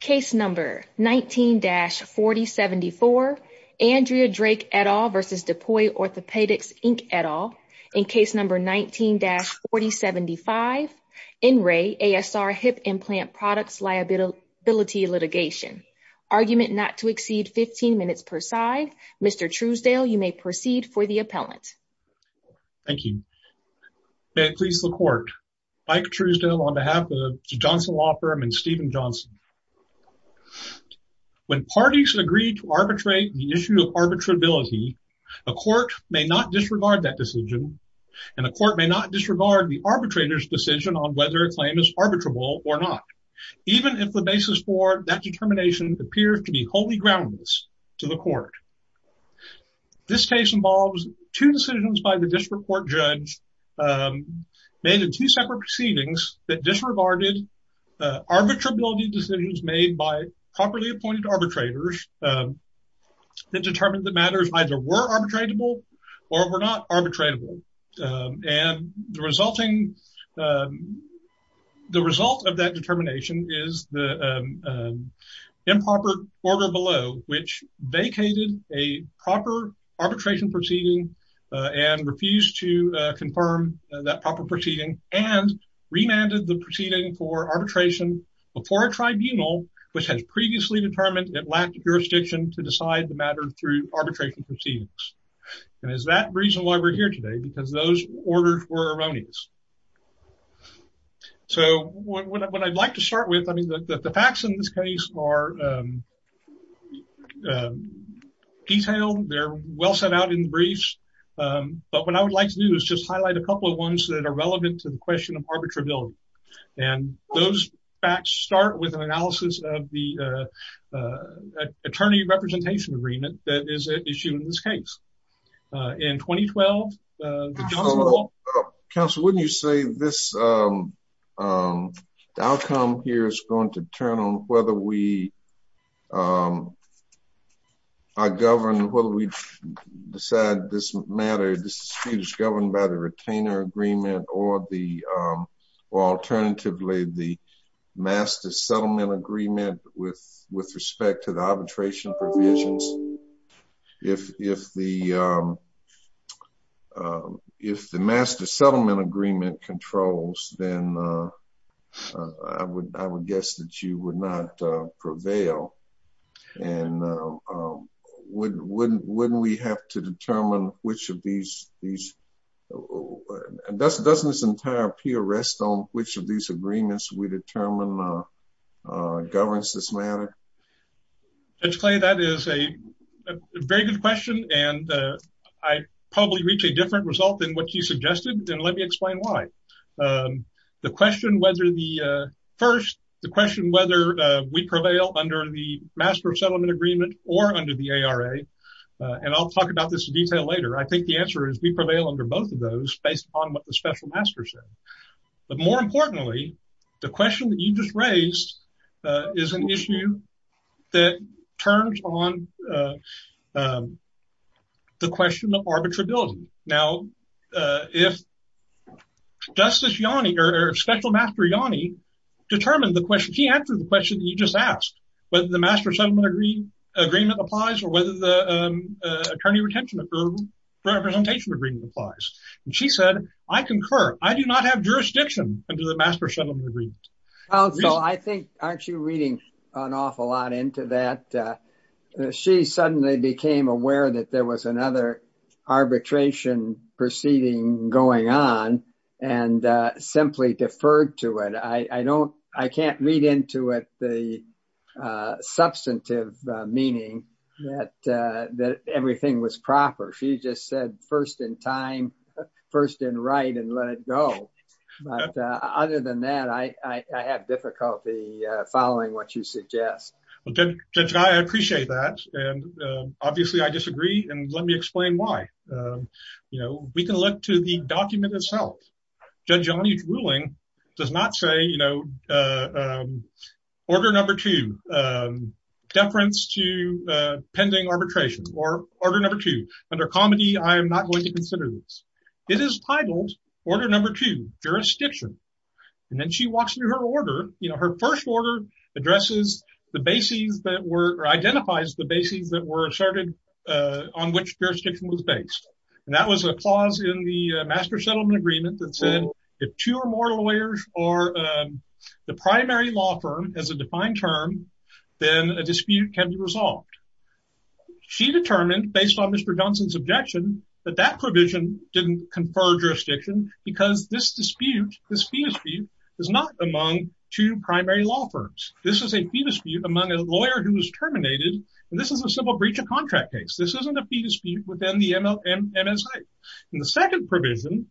Case No. 19-4074 Andrea Drake et al. v. DePuy Orthopaedics Inc et al. In Case No. 19-4075 NRAE ASR Hip Implant Products Liability Litigation Argument not to exceed 15 minutes per side Mr. Truesdale you may proceed for the appellant. Thank you. May it please the court. Mike Truesdale on behalf of the Johnson Law Firm and Steven Johnson. When parties agree to arbitrate the issue of arbitrability a court may not disregard that decision and a court may not disregard the arbitrator's decision on whether a claim is arbitrable or not even if the basis for that determination appears to be wholly groundless to the court. This case involves two decisions by the district court judge made in two separate proceedings that disregarded arbitrability decisions made by properly appointed arbitrators that determined that matters either were arbitrable or were not arbitrable and the resulting the result of that determination is the improper order below which vacated a proper arbitration proceeding and refused to confirm that proper proceeding and remanded the proceeding for arbitration before a tribunal which has previously determined it lacked jurisdiction to decide the matter through arbitration proceedings and is that reason why we're here today because those orders were erroneous. So what I'd like to start with I mean the facts in this case are detailed they're well set out in the briefs but what I would like to do is just highlight a couple of ones that are relevant to the question of arbitrability and those facts start with an analysis of the attorney representation agreement that is issued in this case. In 2012 the council wouldn't you say this outcome here is going to turn on whether we are governed whether we decide this matter this dispute is governed by the retainer agreement or the alternatively the master settlement agreement with respect to the arbitration provisions if the master settlement agreement controls then I would guess that you would not prevail and wouldn't we have to determine which of these and doesn't this entire peer rest on which of these agreements we determine governs this matter. Judge Clay that is a very good question and I probably reach a different result than what you suggested then let me explain why. The question whether the first the question whether we prevail under the master settlement agreement or under the ARA and I'll talk about this in detail later I think the answer is we prevail under both of those based upon what the special master said but more importantly the question that you just raised is an issue that turns on the question of arbitrability. Now if Justice Yanni or special master Yanni determined the question she answered the question you just asked whether the master settlement agreement applies or whether the attorney retention for representation agreement applies and she said I concur I do not have jurisdiction under the master settlement agreement. I think aren't you reading an awful lot into that she suddenly became aware that there was another arbitration proceeding going on and simply deferred to it I don't I can't read into it the first and right and let it go but other than that I I have difficulty following what you suggest. Well Judge Guy I appreciate that and obviously I disagree and let me explain why you know we can look to the document itself Judge Yanni's ruling does not say you know order number two deference to pending arbitration or order number two under comedy I am not going consider this it is titled order number two jurisdiction and then she walks through her order you know her first order addresses the bases that were identifies the bases that were asserted on which jurisdiction was based and that was a clause in the master settlement agreement that said if two or more lawyers are the primary law firm as a defined term then a dispute can be conferred jurisdiction because this dispute dispute is not among two primary law firms this is a dispute among a lawyer who was terminated and this is a civil breach of contract case this isn't a dispute within the MLA and the second provision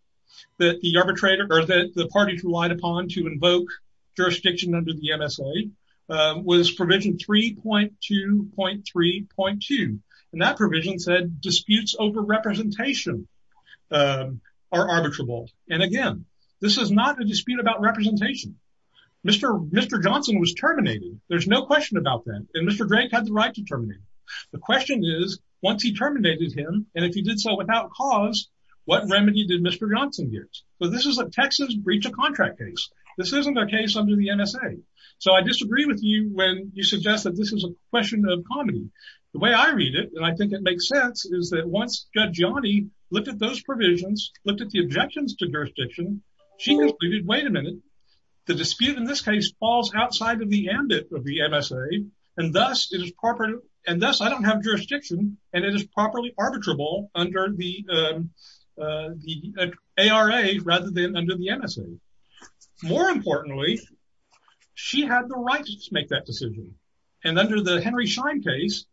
that the arbitrator or that the party relied upon to invoke jurisdiction under the MSA was provision 3.2.3.2 and that provision said disputes over representation are arbitrable and again this is not a dispute about representation Mr. Johnson was terminated there's no question about that and Mr. Drake had the right to terminate the question is once he terminated him and if he did so without cause what remedy did Mr. Johnson get so this is a Texas breach of contract case this isn't a case under the MSA so I disagree with you when you suggest that this is a question of comedy the way I read it and I think it makes sense is that once Judge Yanni looked at those provisions looked at the objections to jurisdiction she concluded wait a minute the dispute in this case falls outside of the ambit of the MSA and thus it is proper and thus I don't have jurisdiction and it is properly arbitrable under the the ARA rather than under the MSA more importantly she had the right to make that decision and under the Henry Schein case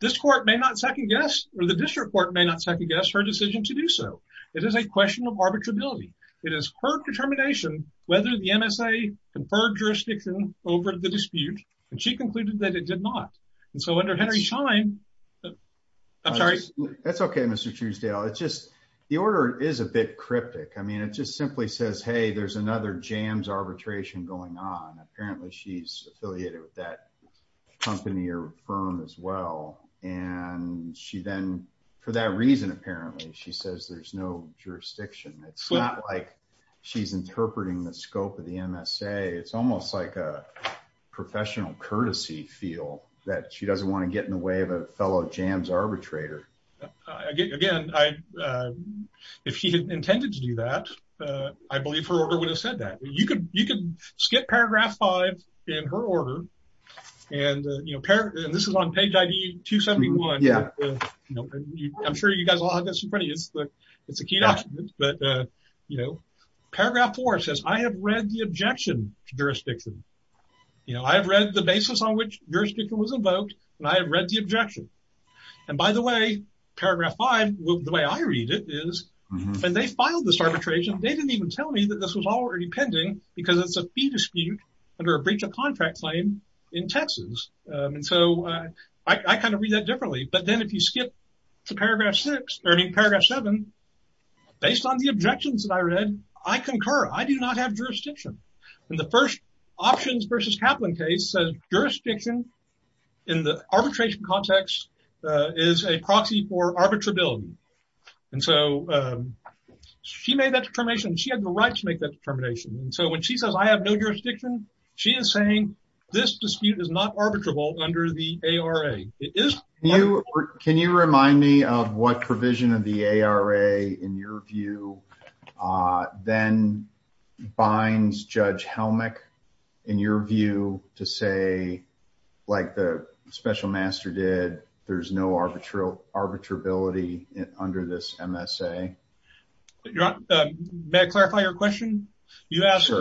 this court may not second guess or the district court may not second guess her decision to do so it is a question of arbitrability it is her determination whether the MSA conferred jurisdiction over the dispute and she concluded that it did not and so under Henry Schein I'm sorry that's okay Mr. Truesdale it's just the order is a bit cryptic I mean it just simply says hey there's another jams arbitration going on apparently she's affiliated with that company or firm as well and she then for that reason apparently she says there's no jurisdiction it's not like she's interpreting the scope of the MSA it's almost like a professional courtesy feel that she doesn't want to get in the way of a fellow jams arbitrator again I if she had intended to do that I believe her order would have said that you could you could skip paragraph five in her order and you know and this is on page id 271 yeah you know I'm sure you guys all have this in front of you it's the it's a key document but uh you know paragraph four says I have read the objection to jurisdiction you know I have read the basis on which jurisdiction was invoked and I have read the objection and by the way paragraph five the way I read it is and they filed this arbitration they didn't even tell me that this was already pending because it's a fee dispute under a breach of contract claim in Texas and so I kind of read that differently but then if you skip to paragraph six or in paragraph seven based on the objections that I read I concur I do not have jurisdiction and the first options versus Kaplan case says jurisdiction in the arbitration context is a proxy for arbitrability and so she made that determination she had the right to make that determination and so when she says I have no jurisdiction she is saying this dispute is not arbitrable under the ARA it is you can you remind me of what provision of the ARA in your view then binds Judge Helmick in your view to say like the special master did there's no arbitral arbitrability under this MSA may I clarify your question you asked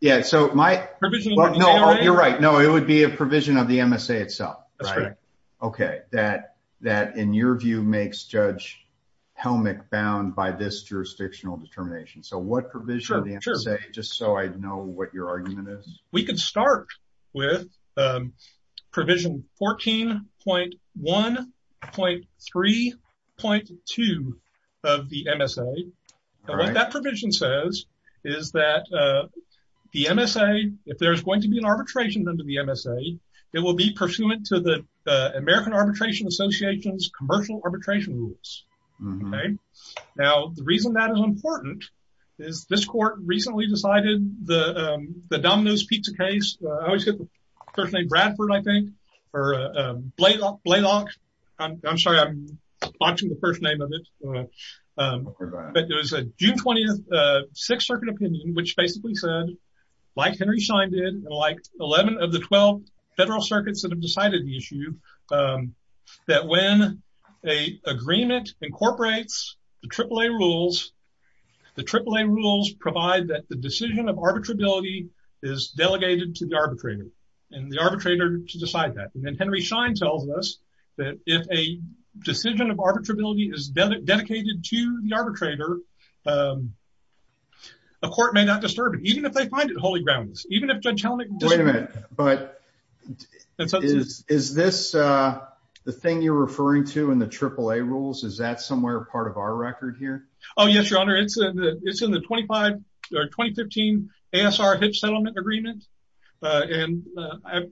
yeah so my provision you're right no it would be a provision of the MSA itself right okay that that in your view makes Judge Helmick bound by this jurisdictional determination so what provision of the MSA just so I know what your argument is we could start with provision 14.1.3.2 of the MSA what that provision says is that the MSA if there's going to be an arbitration under the MSA it will be pursuant to the American Arbitration Association's that is important is this court recently decided the the Domino's pizza case I always get the first name Bradford I think or Blaylock I'm sorry I'm watching the first name of it but there was a June 20th Sixth Circuit opinion which basically said like Henry Schein did and like 11 of the 12 federal circuits that have decided the issue that when a agreement incorporates the triple-a rules the triple-a rules provide that the decision of arbitrability is delegated to the arbitrator and the arbitrator to decide that and then Henry Schein tells us that if a decision of arbitrability is dedicated to the arbitrator a court may not disturb it even if they find it holy grounds even if Judge Helmick wait a minute but is this the thing referring to in the triple-a rules is that somewhere part of our record here oh yes your honor it's a it's in the 25 or 2015 ASR Hitch settlement agreement and I've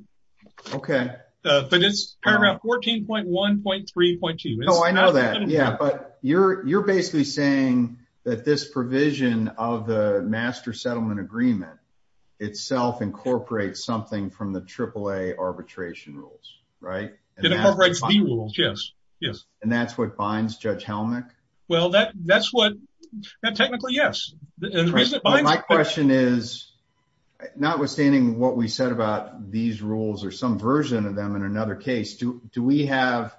okay but it's paragraph 14.1.3.2 oh I know that yeah but you're you're basically saying that this provision of the master settlement agreement itself incorporates something from the triple-a arbitration rules right it incorporates the rules yes yes and that's what binds Judge Helmick well that that's what that technically yes the reason my question is notwithstanding what we said about these rules or some version of them in another case do do we have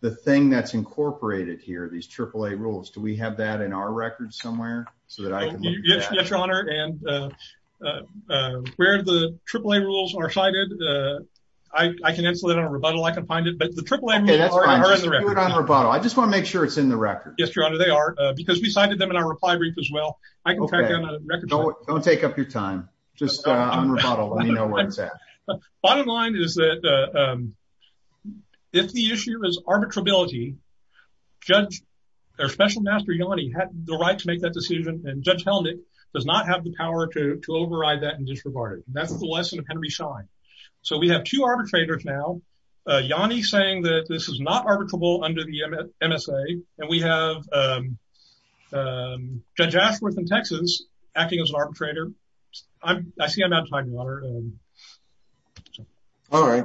the thing that's incorporated here these triple-a rules do we have that in our record somewhere so that I can yes your honor and uh uh where the triple-a rules are cited uh I I can answer that on a rebuttal I can find it but the triple-a I just want to make sure it's in the record yes your honor they are uh because we cited them in our reply brief as well I can track down a record don't take up your time just uh on rebuttal let me know where it's at bottom line is that um if the issue is arbitrability Judge or Special Master Yanni had the right to make that decision and Judge Helmick does not have the power to override that and disregard it that's the lesson of Henry Schein so we have two arbitrators now uh Yanni saying that this is not arbitrable under the MSA and we have um um Judge Ashworth in Texas acting as an arbitrator I'm I see I'm out of time your honor all right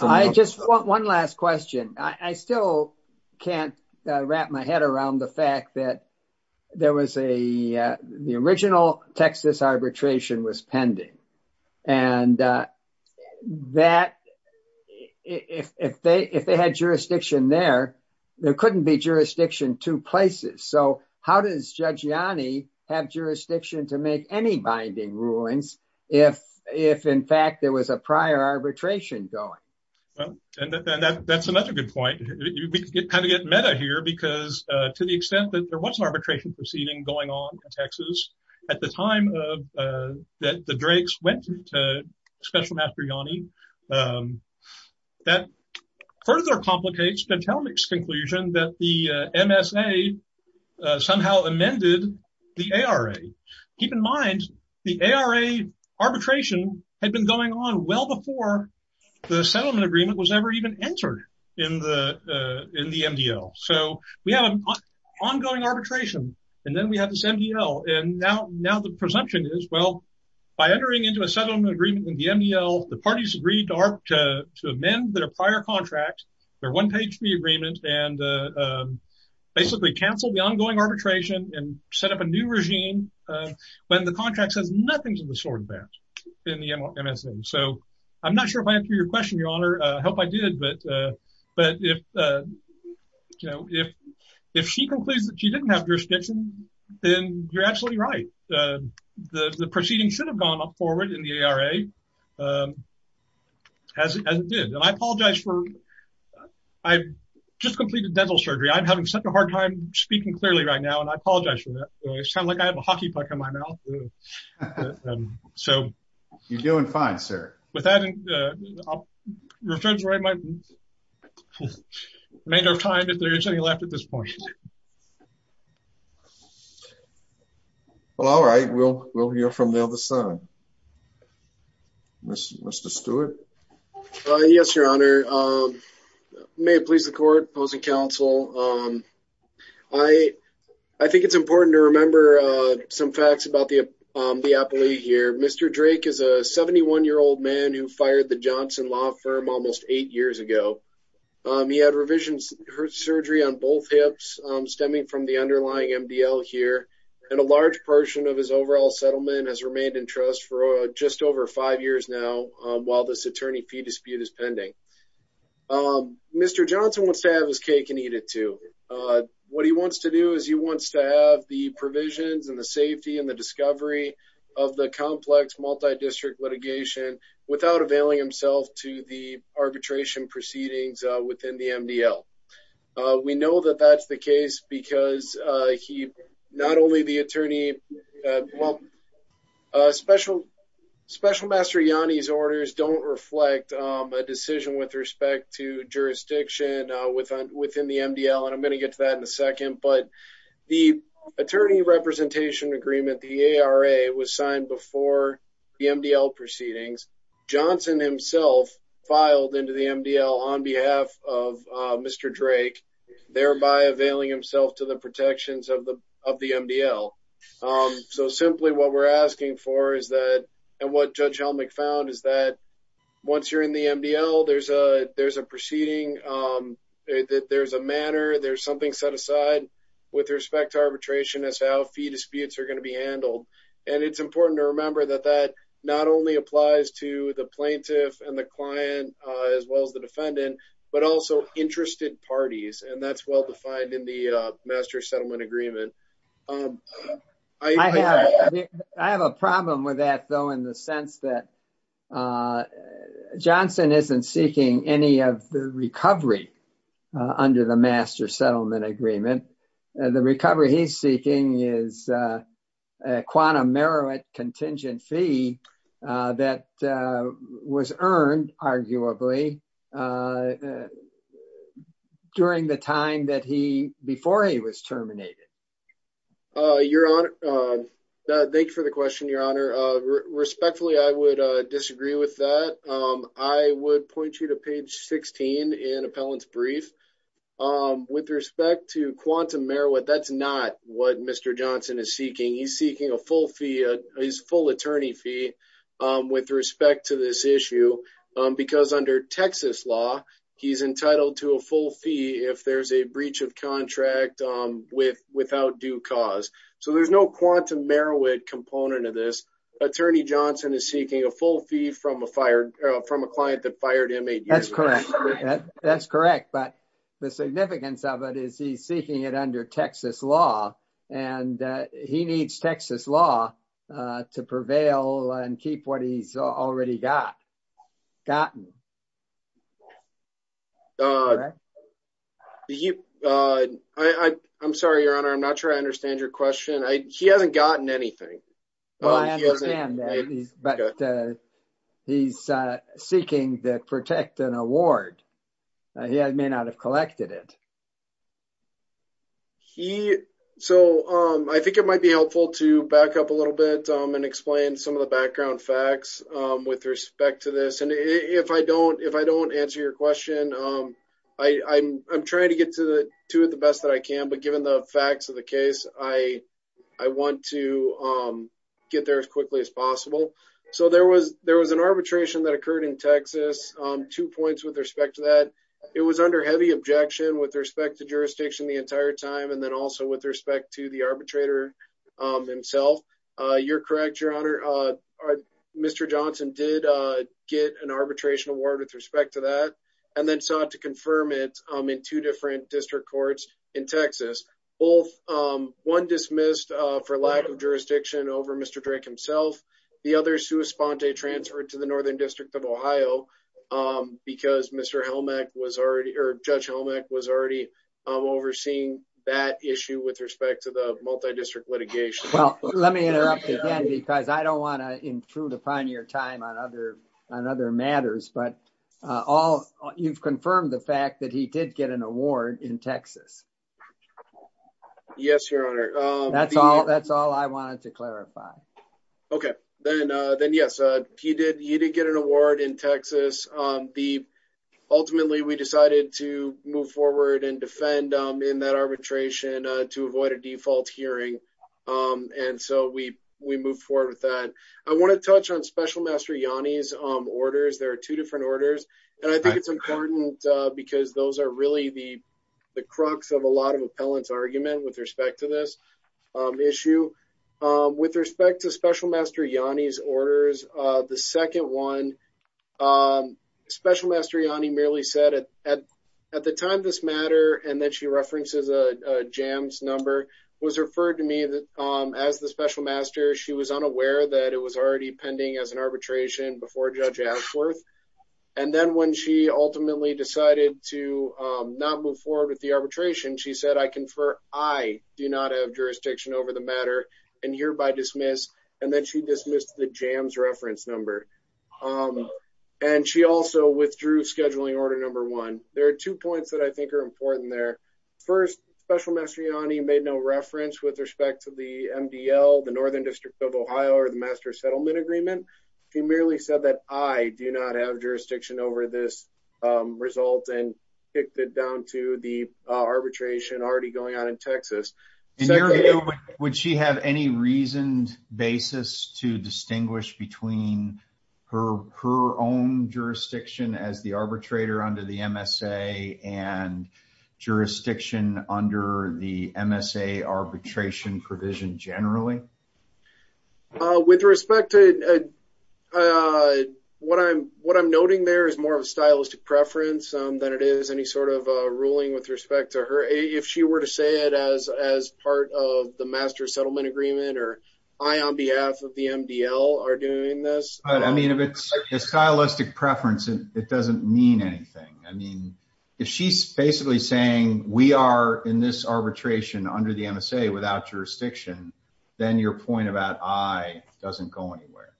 I just want one last question I still can't wrap my head around the fact that there was a the original Texas arbitration was pending and uh that if if they if they had jurisdiction there there couldn't be jurisdiction two places so how does Judge Yanni have jurisdiction to make any binding rulings if if in fact there was a prior arbitration going well and that that's another good point we kind of get meta here because uh to the extent that there was an original arbitration proceeding going on in Texas at the time of uh that the Drakes went to Special Master Yanni um that further complicates Judge Helmick's conclusion that the MSA somehow amended the ARA keep in mind the ARA arbitration had been going on well before the settlement agreement was ever even entered in the uh in the MDL so we have an ongoing arbitration and then we have this MDL and now now the presumption is well by entering into a settlement agreement in the MDL the parties agreed to to amend their prior contract their one page re-agreement and uh basically cancel the ongoing arbitration and set up a new regime when the contract says nothing's in the sword band in the MSA so I'm not sure if I answered your question your honor I hope I did but uh but if uh you know if if she concludes that she didn't have jurisdiction then you're absolutely right uh the the proceeding should have gone forward in the ARA um as it did and I apologize for I've just completed dental surgery I'm having such a hard time speaking clearly right now and I apologize for that I sound like I have a hockey puck in my mouth so you're doing fine sir with that uh your judge right my remainder of time if there is any left at this point well all right we'll we'll hear from the other side Mr. Stewart uh yes your honor um may it please the court opposing counsel um I I think it's important to remember uh some facts about the um the appellee here Mr. Drake is a 71 year old man who fired the Johnson law firm almost eight years ago um he had revision surgery on both hips um stemming from the underlying MDL here and a large portion of his overall settlement has remained in trust for just over five years now while this attorney fee dispute is pending um Mr. Johnson wants to have his cake and eat it too uh what he wants to do is he wants to have the provisions and the safety and the discovery of the complex multi-district litigation without availing himself to the arbitration proceedings within the MDL uh we know that that's the case because uh he not only the attorney well uh special special master Yanni's orders don't reflect um a decision with respect to jurisdiction uh within within the MDL and I'm going to get to that in a second but the attorney representation agreement the ARA was signed before the MDL proceedings Johnson himself filed into the MDL on behalf of uh Mr. Drake thereby availing himself to protections of the of the MDL um so simply what we're asking for is that and what Judge Helmick found is that once you're in the MDL there's a there's a proceeding um there's a manner there's something set aside with respect to arbitration as to how fee disputes are going to be handled and it's important to remember that that not only applies to the plaintiff and the client as well as the defendant but also interested parties and that's well defined in the master settlement agreement um I have I have a problem with that though in the sense that uh Johnson isn't seeking any of the recovery under the master settlement agreement the recovery he's seeking is a quantum merit contingent fee that was earned arguably during the time that he before he was terminated uh your honor uh thank you for the question your honor uh respectfully I would uh disagree with that um I would point you to page 16 in appellant's brief um with respect to quantum merit that's not what Mr. Johnson is seeking he's seeking a full fee his full attorney fee um with respect to this issue um because under Texas law he's entitled to a full fee if there's a breach of contract um with without due cause so there's no quantum merit component of this attorney Johnson is seeking a full fee from a fired from a client that fired him that's correct that's correct but the significance of it is he's seeking it under Texas law and he needs Texas law to prevail and keep what he's already got gotten uh you uh I I'm sorry your honor I'm not sure I understand your question I he hasn't gotten anything well I understand that but uh he's uh seeking that protect an award he may not have collected it he so um I think it might be helpful to back up a little bit um and explain some of the background facts um with respect to this and if I don't if I don't answer your question um I I'm I'm trying to get to the to it the best that I can but given the facts of the case I I want to um get there as quickly as possible so there was there was an arbitration that occurred in Texas um two points with respect to that it was under heavy objection with respect to jurisdiction the entire time and then also with respect to the arbitrator um himself uh you're correct your honor uh Mr. Johnson did uh get an arbitration award with respect to that and then sought to confirm it in two different district courts in Texas both um one dismissed uh for lack of jurisdiction over Mr. Drake himself the other sua sponte transferred to the northern district of Ohio um because Mr. Helmack was already or Judge Helmack was already um overseeing that issue with respect to the multi-district litigation well let me interrupt again because I don't want to intrude upon your time on other on other matters but uh all you've confirmed the fact that he did get an award in Texas yes your honor um that's all that's all I wanted to clarify okay then uh then yes uh he did he did get an award in Texas um the ultimately we decided to move forward and defend um in that arbitration uh to avoid a default hearing um and so we we moved forward with that I want to touch on Special Master Yanni's um orders there are two different orders and I think it's important because those are really the the crux of a lot of appellants argument with respect to this issue um with respect to Special Master Yanni's orders uh the second one um Special Master Yanni merely said at at the time this matter and then she references a jams number was referred to me as the Special Master she was unaware that it was already pending as an arbitration before Judge Ashworth and then when she ultimately decided to um not move forward with the arbitration she said I confer I do not have jurisdiction over the matter and hereby dismiss and then she dismissed the jams reference number um and she also withdrew scheduling order number one there are two points I think are important there first Special Master Yanni made no reference with respect to the MDL the Northern District of Ohio or the Master Settlement Agreement she merely said that I do not have jurisdiction over this um result and kicked it down to the arbitration already going on in Texas would she have any reasoned basis to distinguish between her her own jurisdiction as the arbitrator under the MSA and jurisdiction under the MSA arbitration provision generally uh with respect to uh what I'm what I'm noting there is more of a stylistic preference um than it is any sort of uh ruling with respect to her if she were to say it as as part of the Master Settlement Agreement or I on behalf of the MDL are doing this I mean if it's a stylistic preference it doesn't mean anything I mean if she's basically saying we are in this arbitration under the MSA without jurisdiction then your point about I doesn't go anywhere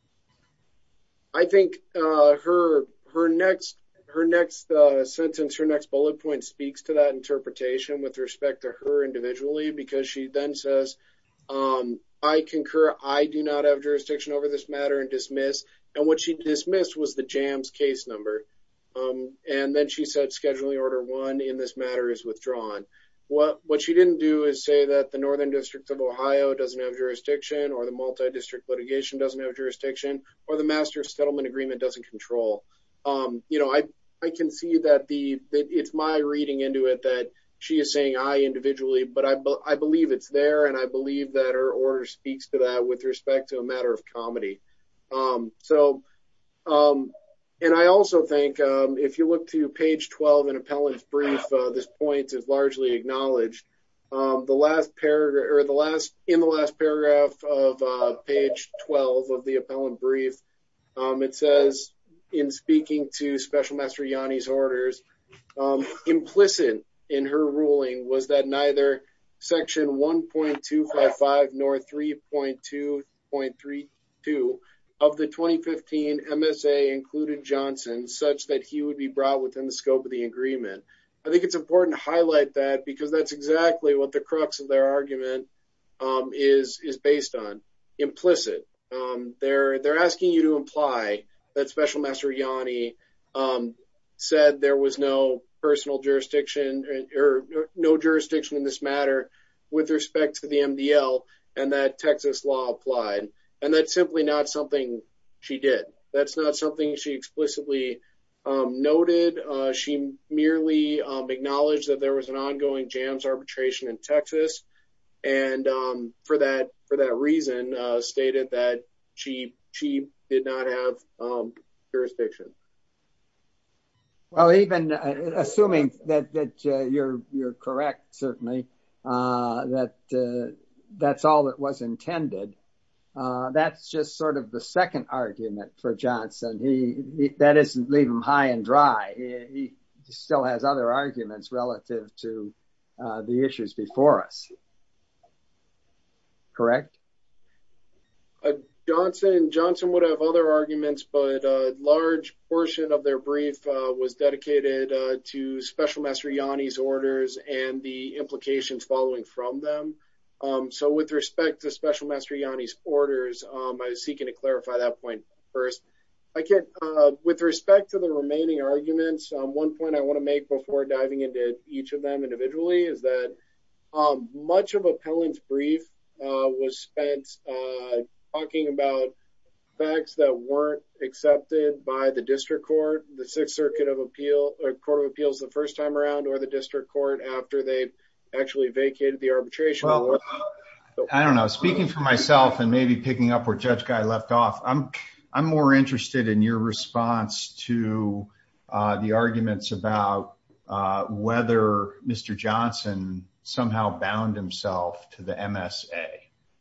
I think uh her her next her next uh sentence her next bullet point speaks to that interpretation with respect to her individually because she then says um I concur I do not have jurisdiction over this matter and and what she dismissed was the jams case number um and then she said scheduling order one in this matter is withdrawn what what she didn't do is say that the Northern District of Ohio doesn't have jurisdiction or the multi-district litigation doesn't have jurisdiction or the Master Settlement Agreement doesn't control um you know I I can see that the that it's my reading into it that she is saying I individually but I I believe it's there and I believe that her order speaks to that with respect to a matter of comedy um so um and I also think um if you look to page 12 in appellant's brief uh this point is largely acknowledged um the last paragraph or the last in the last paragraph of uh page 12 of the appellant brief um it says in speaking to Special Master Yanni's orders um implicit in her ruling was that neither section 1.255 nor 3.2.32 of the 2015 MSA included Johnson such that he would be brought within the scope of the agreement I think it's important to highlight that because that's exactly what the crux of their argument um is is based on implicit um they're asking you to imply that Special Master Yanni um said there was no personal jurisdiction or no jurisdiction in this matter with respect to the MDL and that Texas law applied and that's simply not something she did that's not something she explicitly um noted uh she merely um acknowledged that there was an ongoing jams arbitration in Texas and um for that for that reason uh stated that she she did not have um jurisdiction well even assuming that that you're you're correct certainly uh that that's all that was intended uh that's just sort of the second argument for Johnson he that isn't leave him high and dry he still has other arguments relative to the issues before us correct Johnson Johnson would have other arguments but a large portion of their brief was dedicated to Special Master Yanni's orders and the implications following from them um so with respect to Special Master Yanni's orders um I was seeking to clarify that point first I can't uh with respect to the remaining arguments um one point I want to make before diving into each of them individually is that um much of appellant's brief uh was spent uh talking about facts that weren't accepted by the district court the sixth circuit of appeal or court of appeals the first time around or the district court after they've actually vacated the arbitration I don't know speaking for myself and maybe picking up where judge guy left off I'm I'm more interested in your response to uh the arguments about uh whether Mr. Johnson somehow bound himself to the MSA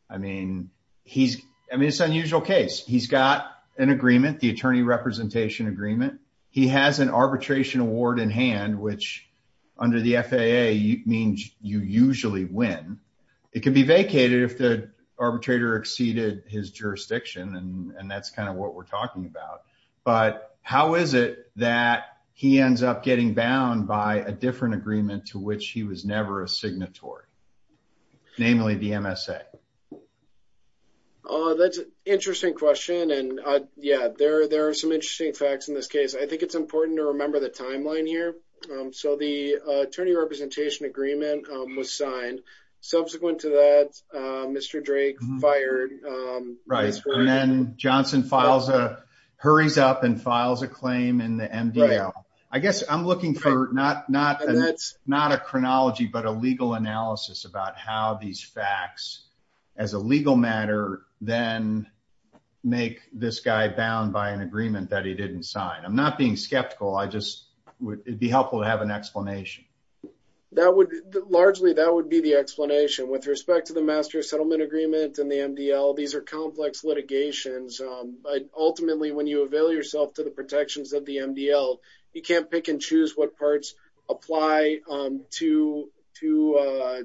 I mean he's I mean it's unusual case he's got an agreement the attorney representation agreement he has an arbitration award in hand which under the FAA means you usually win it can be vacated if the arbitrator exceeded his jurisdiction and and that's kind of what we're talking about but how is it that he ends up getting bound by a different agreement to which he was never a signatory namely the MSA uh that's an interesting question and uh yeah there there are some interesting facts in this case I think it's important to remember the timeline here um so the attorney representation agreement was signed subsequent to that Mr. Drake fired um right and then Johnson files a hurries up and files a claim in the MDL I guess I'm looking for not not and that's not a chronology but a legal analysis about how these facts as a legal matter then make this guy bound by an agreement that he didn't sign I'm not being skeptical I just would it be helpful to have an explanation that would largely that would be the explanation with respect to the master settlement agreement and the MDL these are complex litigations ultimately when you avail yourself to the protections of the MDL you can't pick and choose what parts apply um to to uh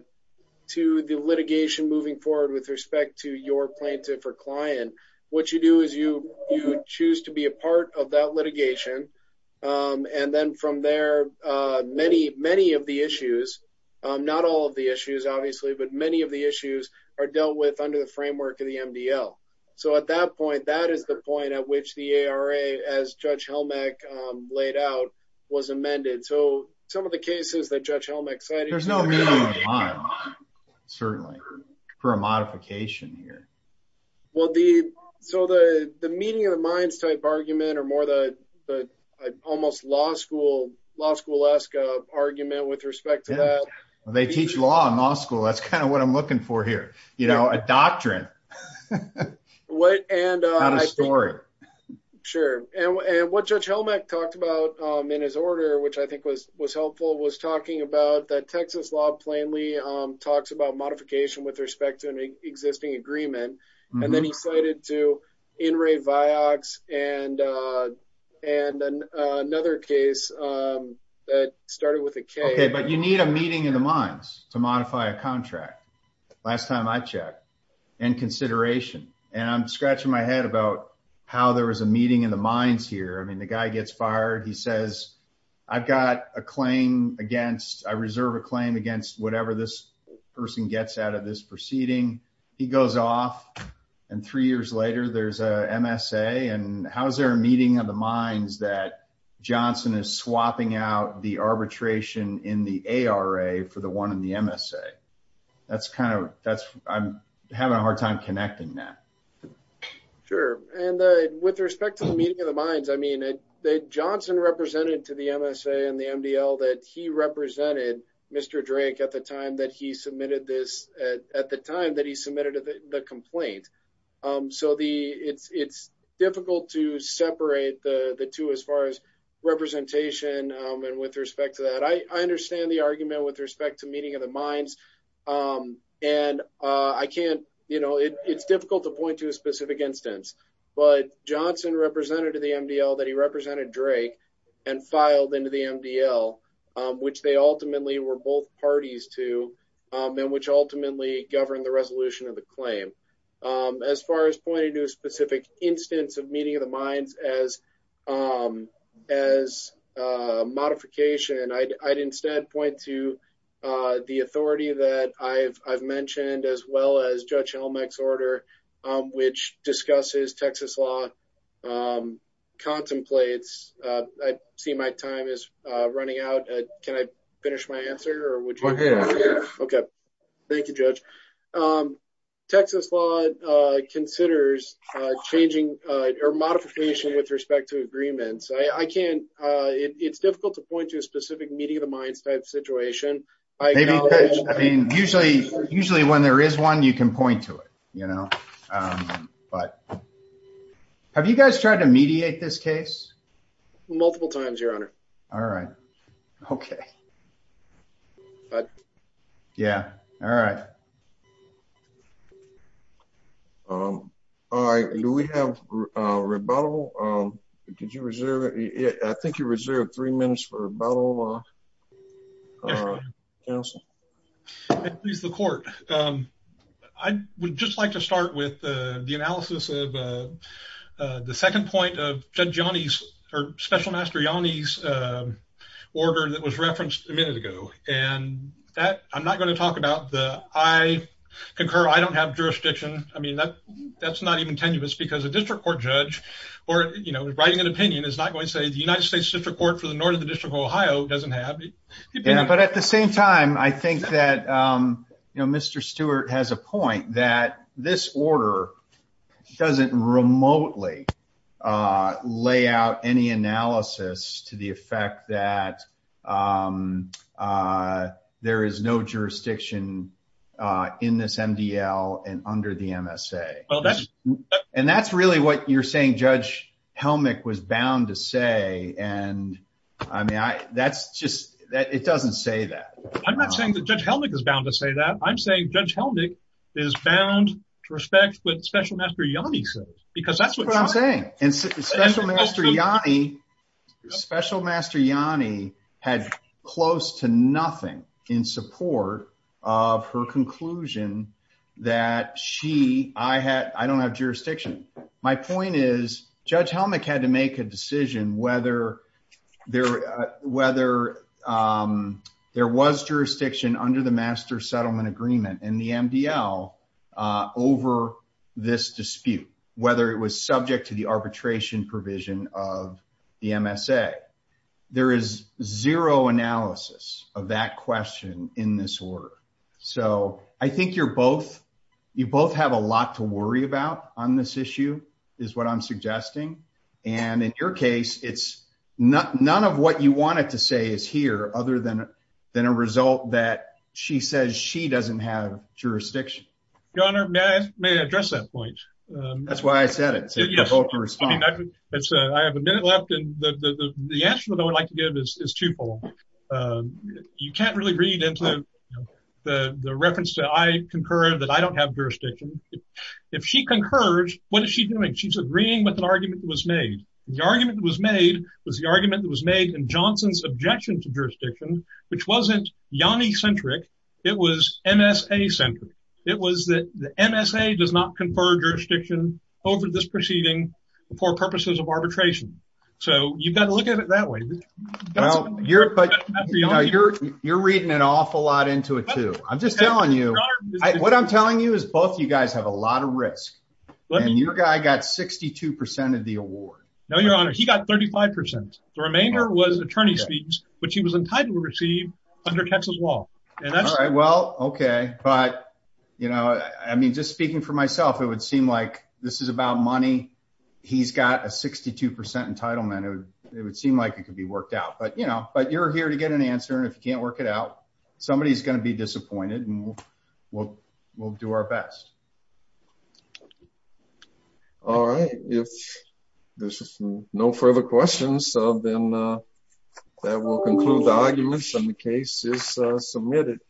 to the litigation moving forward with respect to your plaintiff or client what you do is you you choose to be a part of that litigation um and then from there uh many many of the issues um not all of the issues obviously but many of the issues are dealt with under the framework of the MDL so at that point that is the point at which the ARA as Judge Helmeck laid out was amended so some of the cases that Judge Helmeck said certainly for a modification here well the so the the meeting of the minds type argument or more the almost law school law school-esque argument with respect to that they teach law in law school that's kind of what I'm looking for here you know a doctrine what and uh not a story sure and and what Judge Helmeck talked about um in his order which I think was was helpful was talking about that Texas law plainly um talks about modification with respect to an existing agreement and then he and uh and another case um that started with a k okay but you need a meeting in the minds to modify a contract last time I checked and consideration and I'm scratching my head about how there was a meeting in the minds here I mean the guy gets fired he says I've got a claim against I reserve a claim against whatever this person gets out of this proceeding he goes off and three later there's a MSA and how is there a meeting of the minds that Johnson is swapping out the arbitration in the ARA for the one in the MSA that's kind of that's I'm having a hard time connecting that sure and uh with respect to the meeting of the minds I mean that Johnson represented to the MSA and the MDL that he represented Mr. Drank at the time that he submitted this at the time that he submitted the complaint um so the it's it's difficult to separate the the two as far as representation um and with respect to that I understand the argument with respect to meeting of the minds um and uh I can't you know it's difficult to point to a specific instance but Johnson represented to the MDL that he represented Drake and filed into the MDL um which they ultimately were both parties to um and which ultimately governed the resolution of the claim um as far as pointing to a specific instance of meeting of the minds as um as uh modification and I'd I'd instead point to uh the authority that I've I've mentioned as well as Judge Helmick's finish my answer or would you okay thank you judge um Texas law uh considers uh changing uh or modification with respect to agreements I I can't uh it's difficult to point to a specific meeting of the minds type situation I mean usually usually when there is one you can point to it you know um but have you guys tried to mediate this case multiple times your honor all right okay um all right do we have uh rebuttal um did you reserve it I think you reserved three minutes for rebuttal uh council please the court um I would just like to start with uh the analysis of uh the second point of Judge Yanni's or Special Master Yanni's uh order that was referenced a minute ago and that I'm not going to talk about the I concur I don't have jurisdiction I mean that that's not even tenuous because a district court judge or you know writing an opinion is not going to say the United States District Court for the north of the District of Ohio doesn't have but at the same time I think that um you know Mr. Stewart has a point that this order doesn't remotely uh lay out any analysis to the effect that um uh there is no jurisdiction uh in this MDL and under the MSA well that's and that's really what you're saying Judge Helmick was bound to say and I mean I that's just that it doesn't say that I'm not saying Judge Helmick is bound to say that I'm saying Judge Helmick is bound to respect what Special Master Yanni says because that's what I'm saying and Special Master Yanni Special Master Yanni had close to nothing in support of her conclusion that she I had I don't have jurisdiction my point is Judge Helmick had to make a decision whether there whether um there was jurisdiction under the master settlement agreement in the MDL uh over this dispute whether it was subject to the arbitration provision of the MSA there is zero analysis of that question in this order so I think you're both you both have a lot to worry about on this issue is what I'm suggesting and in your case it's not none of what you wanted to say is here other than than a result that she says she doesn't have jurisdiction your honor may I may address that point um that's why I said it so you have a minute left and the the the answer that I would like to give is is twofold um you can't really read into the the reference that I concur that I don't have jurisdiction if she concurs what is she doing she's agreeing with an argument that was made the argument that was made was the argument that was made in Johnson's objection to jurisdiction which wasn't Yanni centric it was MSA centric it was that the MSA does not confer jurisdiction over this proceeding for purposes of arbitration so you've got to look at it that way well you're you're you're reading an awful lot into it too I'm just telling you what I'm telling you is both you guys have a lot of risk and your guy got 62 of the award no your honor he got 35 the remainder was attorney's fees which he was entitled to receive under Texas law and that's all right well okay but you know I mean just speaking for myself it would seem like this is about money he's got a 62 entitlement it would seem like it could be worked out but you know but you're here to get an answer and if you can't work it out somebody's going to be disappointed and we'll we'll we'll do our best all right if there's no further questions so then that will conclude the arguments and the case is submitted